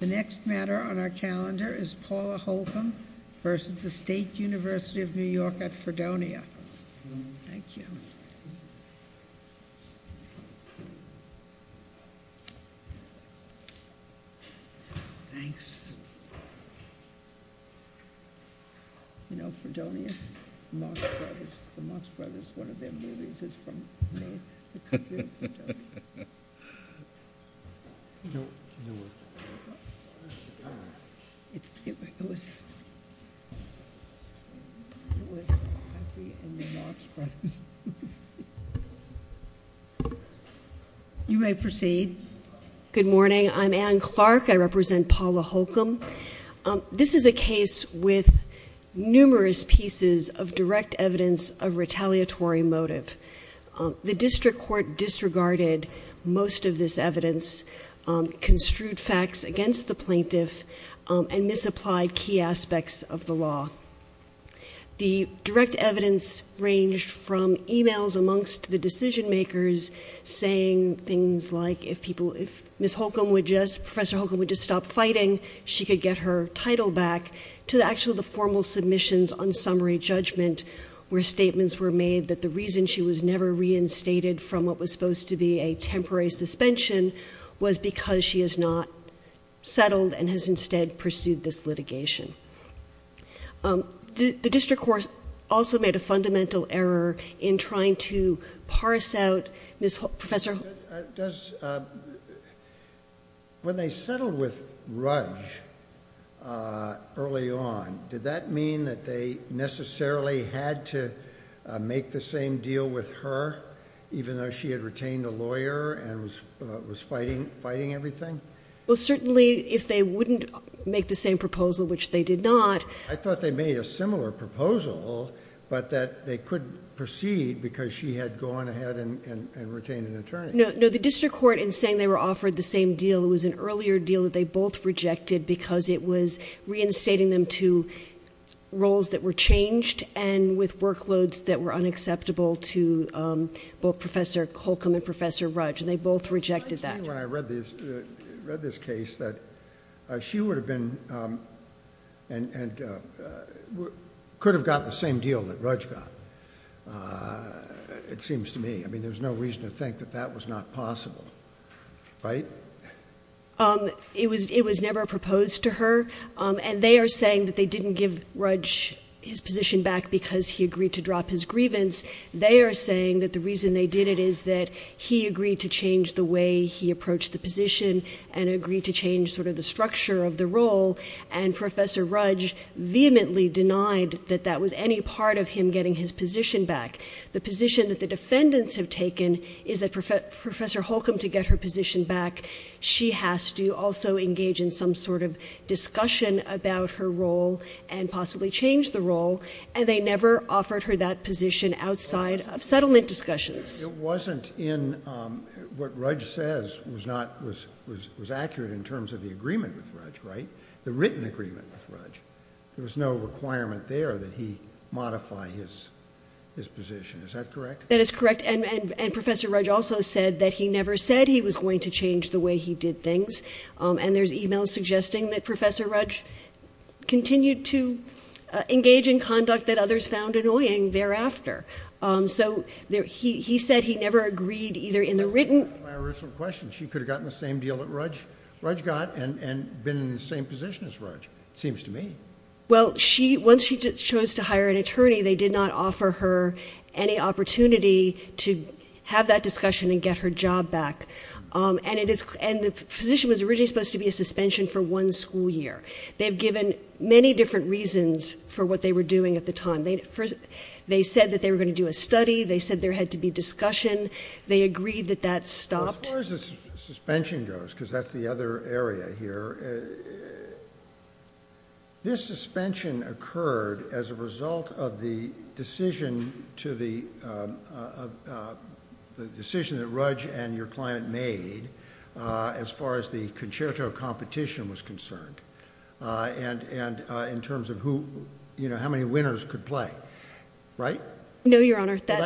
The next matter on our calendar is Paula Holcomb v. State University of New York at Fredonia. Good morning. I'm Anne Clark. I represent Paula Holcomb. This is a case with numerous pieces of direct evidence of retaliatory motive. The district court disregarded most of this evidence, construed facts against the plaintiff, and misapplied key aspects of the law. The direct evidence ranged from e-mails amongst the decision-makers saying things like, if Ms. Holcomb would just, Professor Holcomb would just stop fighting, she could get her title back, to actually the formal submissions on summary judgment, where statements were made, that the reason she was never reinstated from what was supposed to be a temporary suspension was because she has not settled and has instead pursued this litigation. The district court also made a fundamental error in trying to parse out Ms. Holcomb. When they settled with her, even though she had retained a lawyer and was fighting everything? Well, certainly if they wouldn't make the same proposal, which they did not. I thought they made a similar proposal, but that they couldn't proceed because she had gone ahead and retained an attorney. No, no, the district court, in saying they were offered the same deal, it was an earlier deal that they both rejected because it was reinstating them to roles that were changed and with workloads that were unacceptable to both Professor Holcomb and Professor Rudge, and they both rejected that. It seems to me when I read this case that she would have been, and could have got the same deal that Rudge got, it seems to me. I mean, there's no reason to think that that was not possible, right? It was never proposed to her, and they are saying that they didn't give Rudge his position back because he agreed to drop his grievance. They are saying that the reason they did it is that he agreed to change the way he approached the position and agreed to change sort of the structure of the role, and Professor Rudge vehemently denied that that was any part of him getting his position back. The position that the defendants have taken is that Professor Holcomb, to get her position back, she has to also engage in some sort of discussion about her role and possibly change the role, and they never offered her that position outside of settlement discussions. It wasn't in what Rudge says was accurate in terms of the agreement with Rudge, right? The written agreement with Rudge. There was no requirement there that he modify his position. Is that correct? That is correct, and Professor Rudge also said that he never said he was going to change the way he did things, and there's e-mails suggesting that Professor Rudge continued to engage in conduct that others found annoying thereafter. So, he said he never agreed either in the written... That's my original question. She could have gotten the same deal that Rudge got and been in the same position as Rudge, it seems to me. Well, once she chose to hire an attorney, they did not offer her any opportunity to have that discussion and get her job back, and the position was originally supposed to be a suspension for one school year. They've given many different reasons for what they were doing at the time. They said that they were going to do a study. They said there had to be discussion. They agreed that that stopped. As far as the suspension goes, because that's the other area here, this suspension occurred as a result of the decision that Rudge and your client made as far as the concerto competition was concerned, and in terms of how many winners could play, right? No, Your Honor. That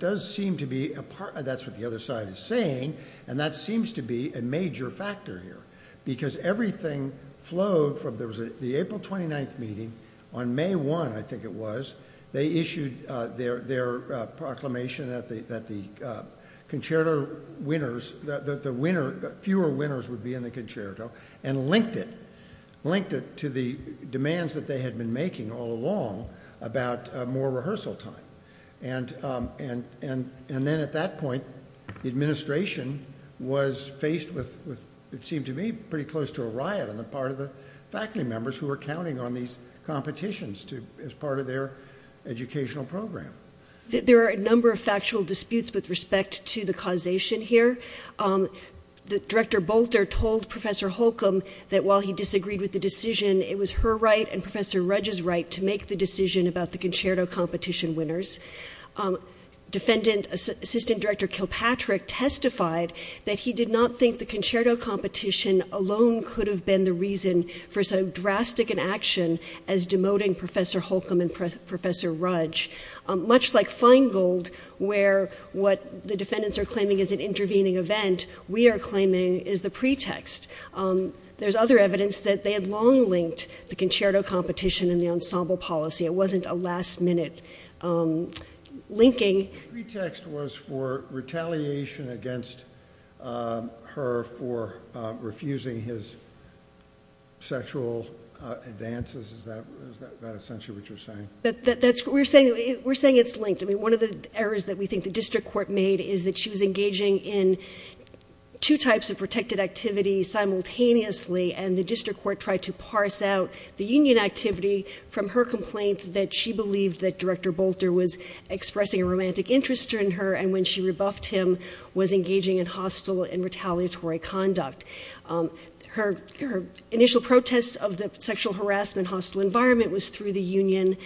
does seem to be a part... That's what the other side is saying, and that seems to be a major factor here, because everything flowed from... There was the April 29th meeting. On May 1, I think it was, they issued their proclamation that the concerto winners, that the fewer winners would be in the concerto, and linked it, linked it to the demands that they had been making all along about more rehearsal time, and then at that point, the competition ceased with, it seemed to me, pretty close to a riot on the part of the faculty members who were counting on these competitions as part of their educational program. There are a number of factual disputes with respect to the causation here. Director Bolter told Professor Holcomb that while he disagreed with the decision, it was her right and Professor Rudge's right to make the decision about the concerto competition winners. Assistant Director Kilpatrick testified that he did not think the concerto competition alone could have been the reason for so drastic an action as demoting Professor Holcomb and Professor Rudge. Much like Feingold, where what the defendants are claiming is an intervening event, we are claiming is the pretext. There's other evidence that they had long linked the concerto competition and the ensemble policy. It wasn't a last minute linking. The pretext was for retaliation against her for refusing his sexual advances. Is that essentially what you're saying? We're saying it's linked. One of the errors that we think the district court made is that she was engaging in two types of protected activities simultaneously, and the district court tried to parse out the union activity from her complaint that she believed that there was a romantic interest in her, and when she rebuffed him, was engaging in hostile and retaliatory conduct. Her initial protests of the sexual harassment hostile environment was through the union.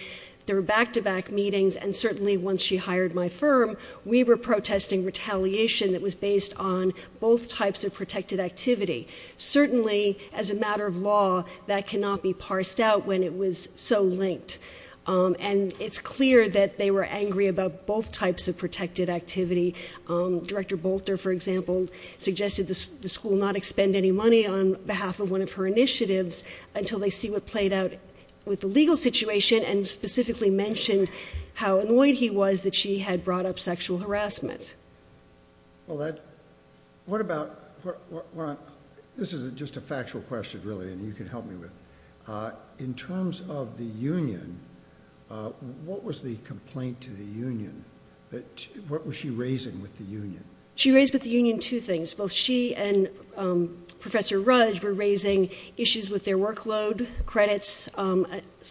There were back to back meetings, and certainly once she hired my firm, we were protesting retaliation that was based on both types of protected activity. Certainly as a matter of law, that cannot be parsed out when it was so linked. And it's clear that they were angry about both types of protected activity. Director Bolter, for example, suggested the school not expend any money on behalf of one of her initiatives until they see what played out with the legal situation, and specifically mentioned how annoyed he was that she had brought up sexual harassment. What about, this is just a factual question really, and you can help me with. In terms of the union, what was the complaint to the union? What was she raising with the union? She raised with the union two things. Both she and Professor Rudge were raising issues with their workload, credits,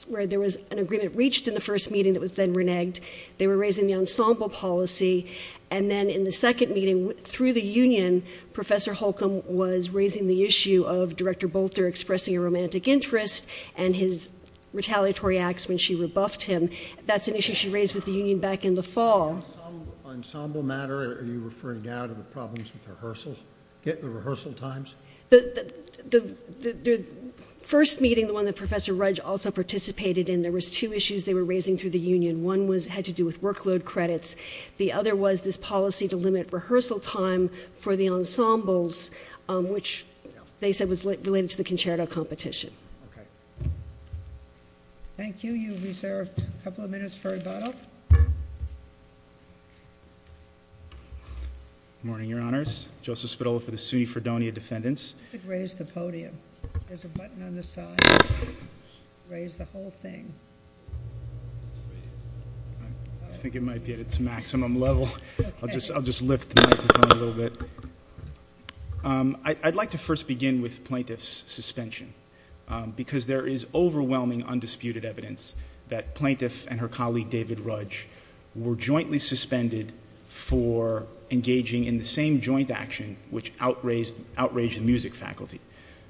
where there was an agreement reached in the first meeting that was then reneged. They were raising the ensemble policy, and then in the second meeting, through the union, Professor Holcomb was raising the issue of Director Bolter expressing a retaliatory acts when she rebuffed him. That's an issue she raised with the union back in the fall. Ensemble matter? Are you referring now to the problems with rehearsal, the rehearsal times? First meeting, the one that Professor Rudge also participated in, there was two issues they were raising through the union. One had to do with workload credits. The other was this policy to limit rehearsal time for the ensembles, which they said was related to concerto competition. Thank you. You've reserved a couple of minutes for rebuttal. Good morning, Your Honors. Joseph Spadola for the SUNY Fredonia Defendants. I think it might be at its maximum level. I'll just lift the microphone a little bit. I'd like to first begin with Plaintiff's suspension because there is overwhelming undisputed evidence that Plaintiff and her colleague David Rudge were jointly suspended for engaging in the same joint action which outraged the music faculty.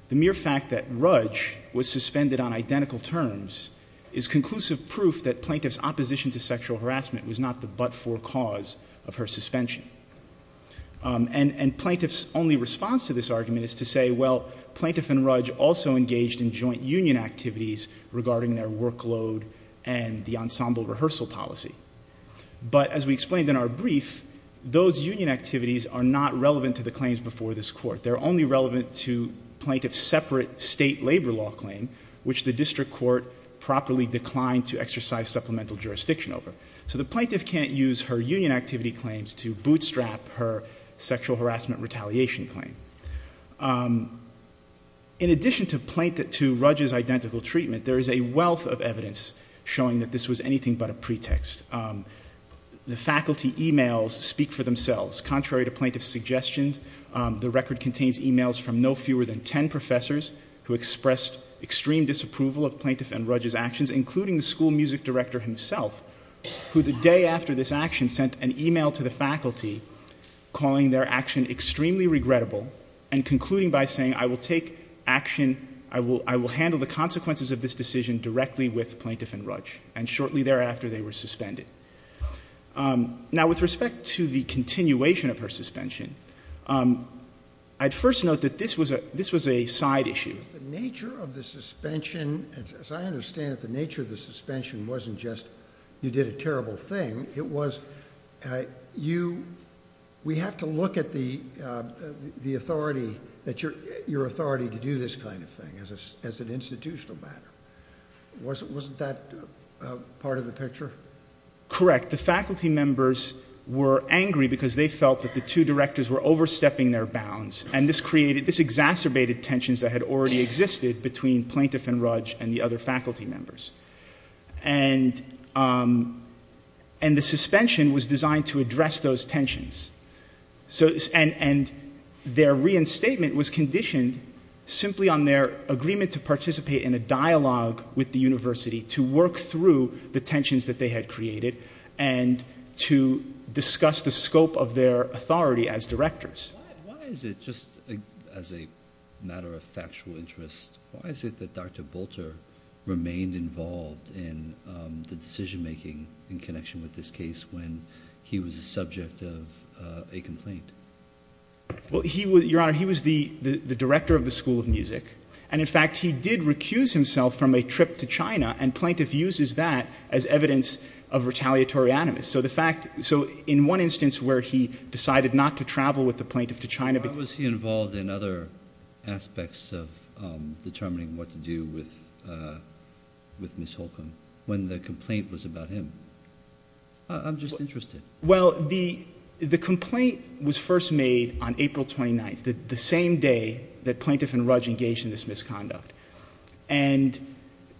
The mere fact that Rudge was suspended on identical terms is conclusive proof that Plaintiff's opposition to sexual harassment and Plaintiff's only response to this argument is to say, well, Plaintiff and Rudge also engaged in joint union activities regarding their workload and the ensemble rehearsal policy. But as we explained in our brief, those union activities are not relevant to the claims before this Court. They're only relevant to Plaintiff's separate state labor law claim, which the district court properly declined to exercise supplemental jurisdiction over. So the Plaintiff can't use her union activity claims to bootstrap her sexual harassment retaliation claim. In addition to Rudge's identical treatment, there is a wealth of evidence showing that this was anything but a pretext. The faculty emails speak for themselves. Contrary to Plaintiff's suggestions, the record contains emails from no fewer than ten professors who expressed extreme disapproval of Plaintiff and Rudge's actions, including the school music director himself, who the day after this action sent an email to the faculty calling their action extremely regrettable and concluding by saying, I will take action, I will handle the consequences of this decision directly with Plaintiff and Rudge. And shortly thereafter, they were suspended. Now, with respect to the continuation of her suspension, I'd first note that this was a side issue. The nature of the suspension, as I understand it, the nature of the suspension wasn't just you did a terrible thing, it was you, we have to look at the authority, your authority to do this kind of thing as an institutional matter. Wasn't that part of the picture? Correct. The faculty members were angry because they felt that the two directors were overstepping their bounds, and this created, this exacerbated tensions that had already existed between Plaintiff and Rudge and the other faculty members. And the suspension was designed to address those tensions. And their reinstatement was conditioned simply on their agreement to participate in a dialogue with the university to work through the tensions that they had Why is it, just as a matter of factual interest, why is it that Dr. Bolter remained involved in the decision-making in connection with this case when he was the subject of a complaint? Well, your honor, he was the director of the School of Music, and in fact, he did recuse himself from a trip to China, and Plaintiff uses that as evidence of retaliatory animus. So the fact, so in one instance where he decided not to travel with the plaintiff to China Why was he involved in other aspects of determining what to do with Ms. Holcomb when the complaint was about him? I'm just interested. Well, the complaint was first made on April 29th, the same day that Plaintiff and Rudge engaged in this misconduct. And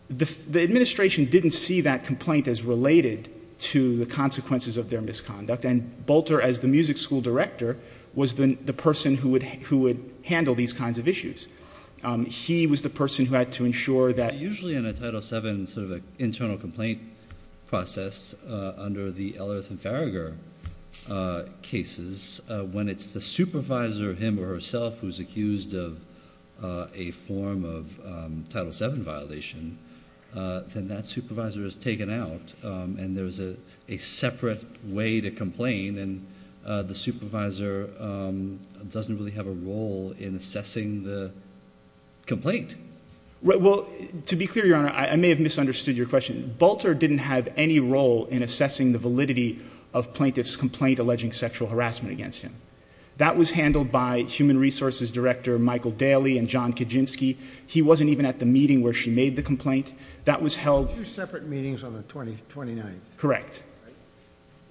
the administration didn't see that complaint as related to the consequences of their misconduct. And Bolter, as the music school director, was the person who would handle these kinds of issues. He was the person who had to ensure that Usually in a Title VII sort of internal complaint process, under the Ellerth and Farragher cases, when it's the supervisor, him or herself, who's accused of a form of Title VII violation, then that supervisor is taken out, and there's a separate way to complain, and the supervisor doesn't really have a role in assessing the complaint. Well, to be clear, Your Honor, I may have misunderstood your question. Bolter didn't have any role in assessing the validity of Plaintiff's complaint alleging sexual harassment against him. That was handled by Human Resources Director Michael Daly and John Kaczynski. He wasn't even at the meeting where she made the complaint. That was held... Two separate meetings on the 29th. Correct.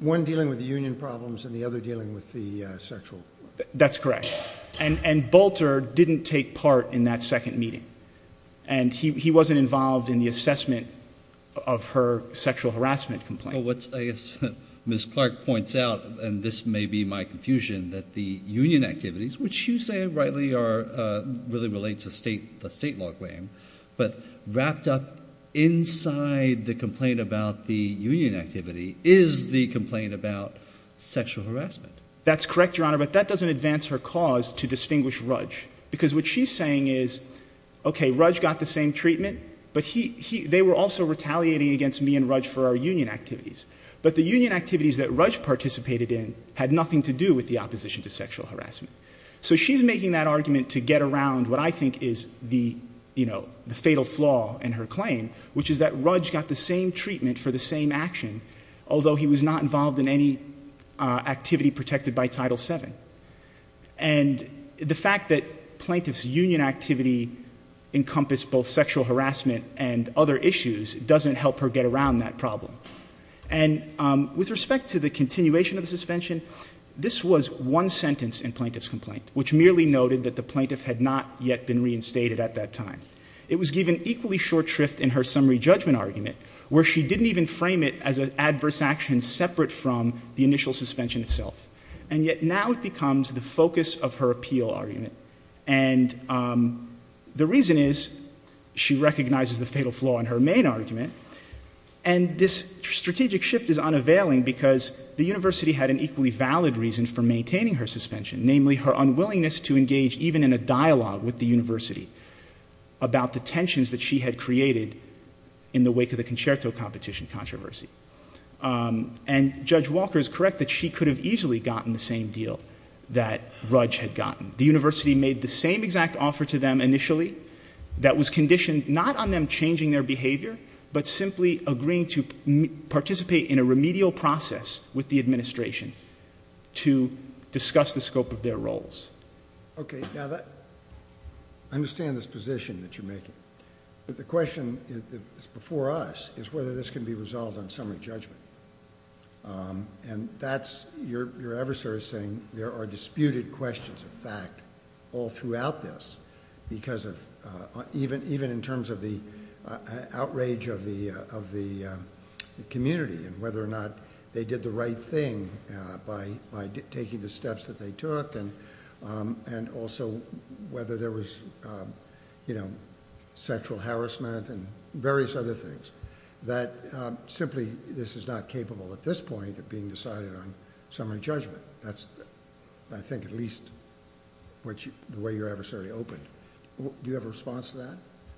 One dealing with the union problems and the other dealing with the sexual... That's correct. And Bolter didn't take part in that second meeting. And he wasn't involved in the assessment of her sexual harassment complaints. Well, I guess Ms. Clark points out, and this may be my confusion, that the union activities, which you say rightly really relate to the state law claim, but wrapped up inside the complaint about the union activity is the complaint about sexual harassment. That's correct, Your Honor, but that doesn't advance her cause to distinguish Rudge, because what she's saying is, okay, Rudge got the same treatment, but they were also retaliating against me and Rudge for our union activities. But the union activities that Rudge participated in had nothing to do with the opposition to sexual harassment. So she's making that argument to get around what I think is the fatal flaw in her claim, which is that Rudge got the same treatment for the same action, although he was not involved in any activity protected by Title VII. And the fact that plaintiff's union activity encompassed both sexual harassment and other issues doesn't help her get around that problem. And with respect to the continuation of the suspension, this was one sentence in plaintiff's complaint, which merely noted that the plaintiff had not yet been reinstated at that time. It was given equally short shrift in her summary judgment argument, where she didn't even frame it as an adverse action separate from the initial suspension itself. And yet now it becomes the focus of her appeal argument. And the reason is she recognizes the fatal flaw in her main argument, and this strategic shift is unavailing because the university had an equally valid reason for maintaining her suspension, namely her unwillingness to engage even in a dialogue with the university about the tensions that she had created in the wake of the concerto competition controversy. And Judge Walker is correct that she could have easily gotten the same deal that Rudge had gotten. The university made the same exact offer to them initially that was conditioned not on them changing their behavior, but simply agreeing to participate in a remedial process with the administration to discuss the scope of their roles. Okay, now I understand this position that you're making, but the question that's before us is whether this can be resolved on summary judgment. And that's your adversary saying there are disputed questions of fact all throughout this even in terms of the outrage of the community and whether or not they did the right thing by taking the steps that they took and also whether there was sexual harassment and various other things. That simply this is not capable at this point of being decided on summary judgment. That's I think at least the way your adversary opened. Do you have a response to that?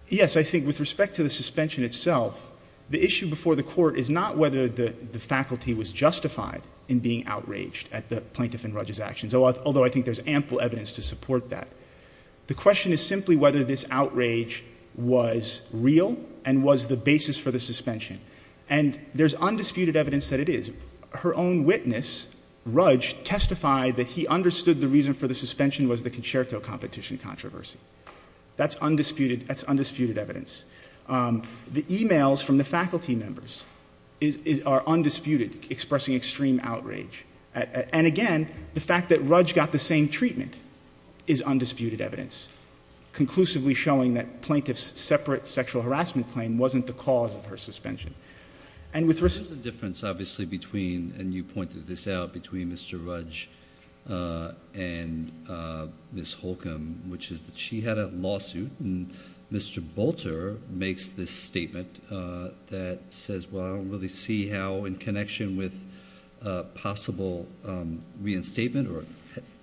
Yes, I think with respect to the suspension itself, the issue before the court is not whether the faculty was justified in being outraged at the plaintiff and Rudge's actions, although I think there's ample evidence to support that. The question is simply whether this outrage was real and was the basis for the suspension. And there's undisputed evidence that it is. Her own witness, Rudge, testified that he understood the reason for the suspension was the concerto competition controversy. That's undisputed evidence. The e-mails from the faculty members are undisputed, expressing extreme outrage. And again, the fact that Rudge got the same treatment is undisputed evidence, conclusively showing that plaintiff's separate sexual harassment claim wasn't the cause of her suspension. There's a difference obviously between, and you pointed this out, between Mr. Rudge and Ms. Holcomb, which is that she had a lawsuit and Mr. Bolter makes this statement that says, well, I don't really see how in connection with possible reinstatement or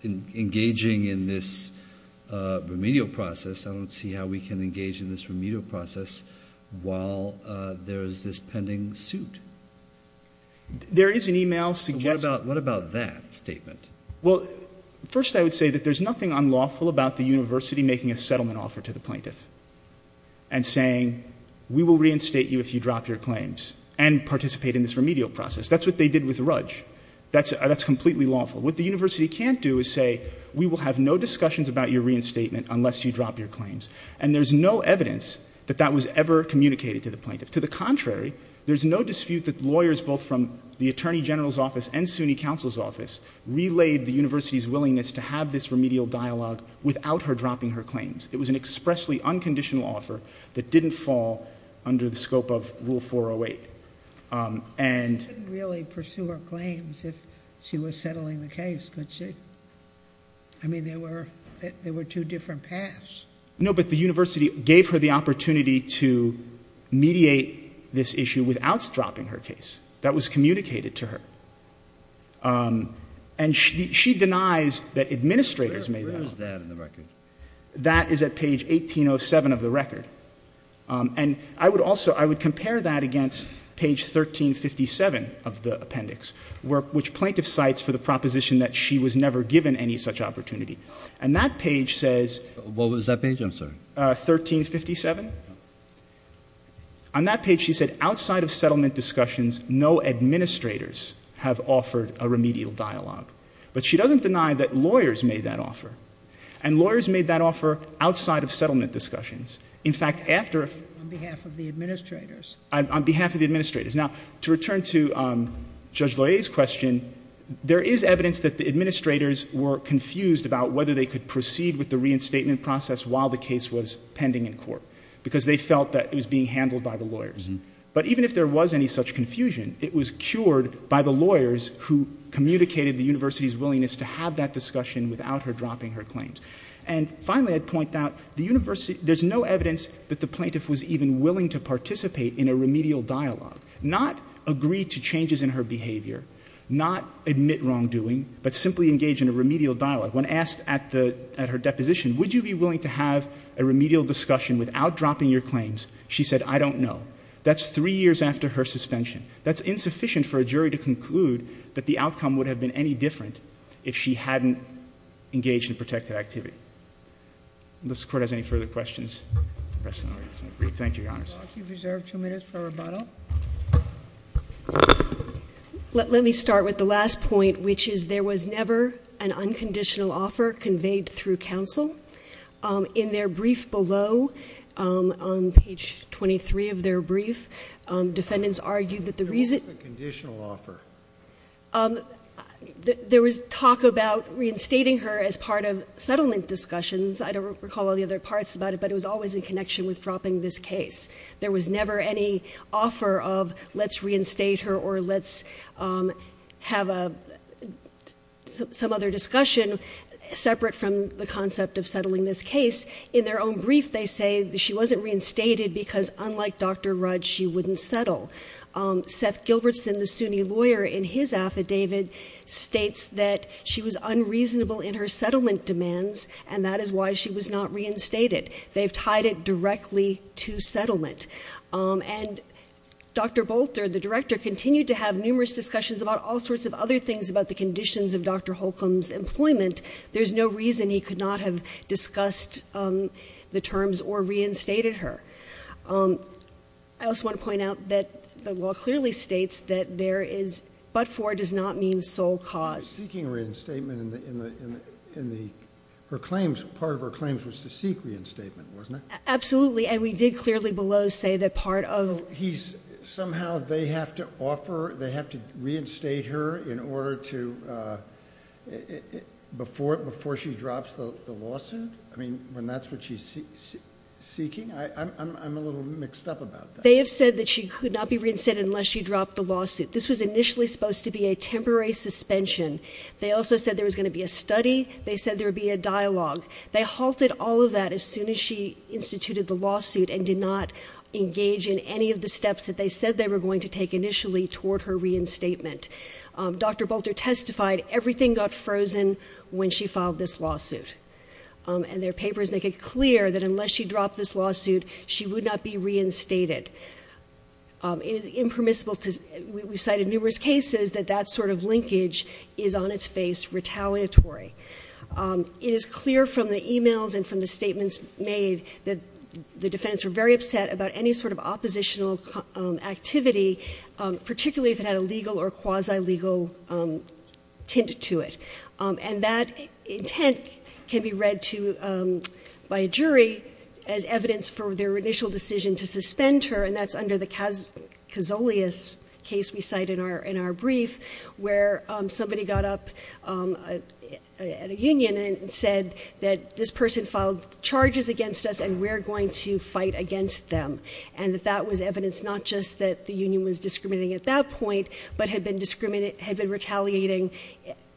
engaging in this remedial process, I don't see how we can engage in this remedial process while there is this pending suit. There is an e-mail suggesting. What about that statement? Well, first I would say that there's nothing unlawful about the university making a settlement offer to the plaintiff and saying we will reinstate you if you drop your claims and participate in this remedial process. That's what they did with Rudge. That's completely lawful. What the university can't do is say we will have no discussions about your reinstatement unless you drop your claims. And there's no evidence that that was ever communicated to the plaintiff. To the contrary, there's no dispute that lawyers both from the Attorney General's office and SUNY Counsel's office relayed the university's willingness to have this remedial dialogue without her dropping her claims. It was an expressly unconditional offer that didn't fall under the scope of Rule 408. You couldn't really pursue her claims if she was settling the case, could you? I mean, there were two different paths. No, but the university gave her the opportunity to mediate this issue without dropping her case. That was communicated to her. And she denies that administrators made that. Where is that in the record? That is at page 1807 of the record. And I would also, I would compare that against page 1357 of the appendix, which plaintiff cites for the proposition that she was never given any such opportunity. And that page says... What was that page, I'm sorry? 1357. On that page, she said outside of settlement discussions, no administrators have offered a remedial dialogue. But she doesn't deny that lawyers made that offer. And lawyers made that offer outside of settlement discussions. In fact, after... On behalf of the administrators. On behalf of the administrators. Now, to return to Judge Loehr's question, there is evidence that the administrators were confused about whether they could proceed with the reinstatement process while the case was pending in court because they felt that it was being handled by the lawyers. But even if there was any such confusion, it was cured by the lawyers who communicated the university's willingness to have that discussion without her dropping her claims. And finally, I'd point out, the university... There's no evidence that the plaintiff was even willing to participate in a remedial dialogue. Not agree to changes in her behavior. Not admit wrongdoing. But simply engage in a remedial dialogue. When asked at her deposition, would you be willing to have a remedial discussion without dropping your claims, she said, I don't know. That's three years after her suspension. That's insufficient for a jury to conclude that the outcome would have been any different if she hadn't engaged in protective activity. Unless the Court has any further questions, the rest of the audience may leave. Thank you, Your Honors. You've reserved two minutes for rebuttal. Let me start with the last point, which is there was never an unconditional offer conveyed through counsel. In their brief below, on page 23 of their brief, defendants argued that the reason... What's the conditional offer? There was talk about reinstating her as part of settlement discussions. I don't recall all the other parts about it, but it was always in connection with dropping this case. There was never any offer of let's reinstate her or let's have some other discussion, separate from the concept of settling this case. In their own brief, they say that she wasn't reinstated because unlike Dr. Rudd, she wouldn't settle. Seth Gilbertson, the SUNY lawyer, in his affidavit, states that she was unreasonable in her settlement demands, and that is why she was not reinstated. They've tied it directly to settlement. And Dr. Bolter, the director, continued to have numerous discussions about all sorts of other things about the conditions of Dr. Holcomb's employment. There's no reason he could not have discussed the terms or reinstated her. I also want to point out that the law clearly states that there is but for does not mean sole cause. Seeking reinstatement in her claims, part of her claims was to seek reinstatement, wasn't it? Absolutely, and we did clearly below say that part of... Somehow they have to offer, they have to reinstate her in order to, before she drops the lawsuit? I mean, when that's what she's seeking? I'm a little mixed up about that. They have said that she could not be reinstated unless she dropped the lawsuit. This was initially supposed to be a temporary suspension. They also said there was going to be a study. They said there would be a dialogue. They halted all of that as soon as she instituted the lawsuit and did not engage in any of the steps that they said they were going to take initially toward her reinstatement. Dr. Bolter testified everything got frozen when she filed this lawsuit, and their papers make it clear that unless she dropped this lawsuit, she would not be reinstated. It is impermissible because we've cited numerous cases that that sort of linkage is on its face retaliatory. It is clear from the emails and from the statements made that the defendants were very upset about any sort of oppositional activity, particularly if it had a legal or quasi-legal tint to it. That intent can be read by a jury as evidence for their initial decision to suspend her, and that's under the Casolius case we cite in our brief, where somebody got up at a union and said that this person filed charges against us and we're going to fight against them, and that that was evidence not just that the union was discriminating at that point but had been retaliating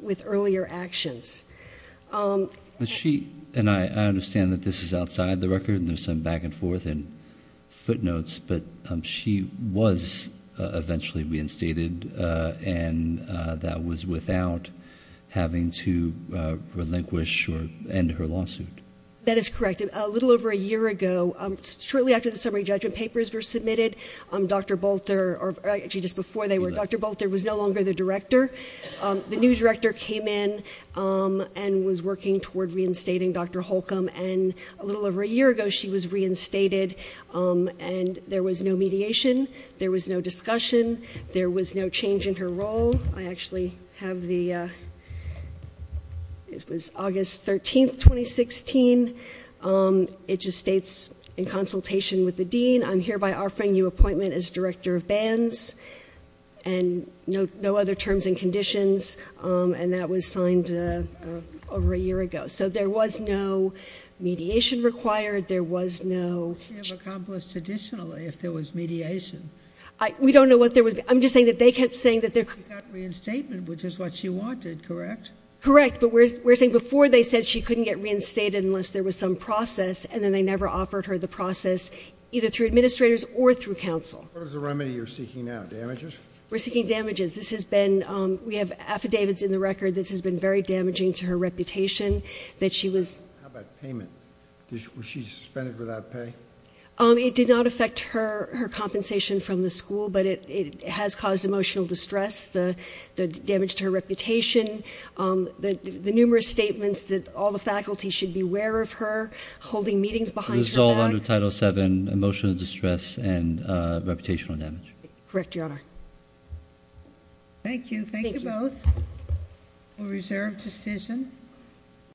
with earlier actions. She and I understand that this is outside the record and there's some back and forth and footnotes, but she was eventually reinstated, and that was without having to relinquish or end her lawsuit. That is correct. A little over a year ago, shortly after the summary judgment papers were submitted, Dr. Bolter, or actually just before they were, Dr. Bolter was no longer the director. The new director came in and was working toward reinstating Dr. Holcomb, and a little over a year ago she was reinstated, and there was no mediation. There was no discussion. There was no change in her role. I actually have the, it was August 13, 2016. It just states, in consultation with the dean, I'm hereby offering you appointment as director of bands and no other terms and conditions, and that was signed over a year ago. So there was no mediation required. There was no change. What would she have accomplished additionally if there was mediation? We don't know what there would be. I'm just saying that they kept saying that there could be. She got reinstatement, which is what she wanted, correct? Correct, but we're saying before they said she couldn't get reinstated unless there was some process, and then they never offered her the process either through administrators or through counsel. What is the remedy you're seeking now, damages? We're seeking damages. This has been, we have affidavits in the record. This has been very damaging to her reputation that she was. How about payment? Was she suspended without pay? It did not affect her compensation from the school, but it has caused emotional distress, the damage to her reputation, the numerous statements that all the faculty should beware of her, holding meetings behind her back. This is all under Title VII, emotional distress and reputational damage. Correct, Your Honor. Thank you. Thank you both for a reserved decision.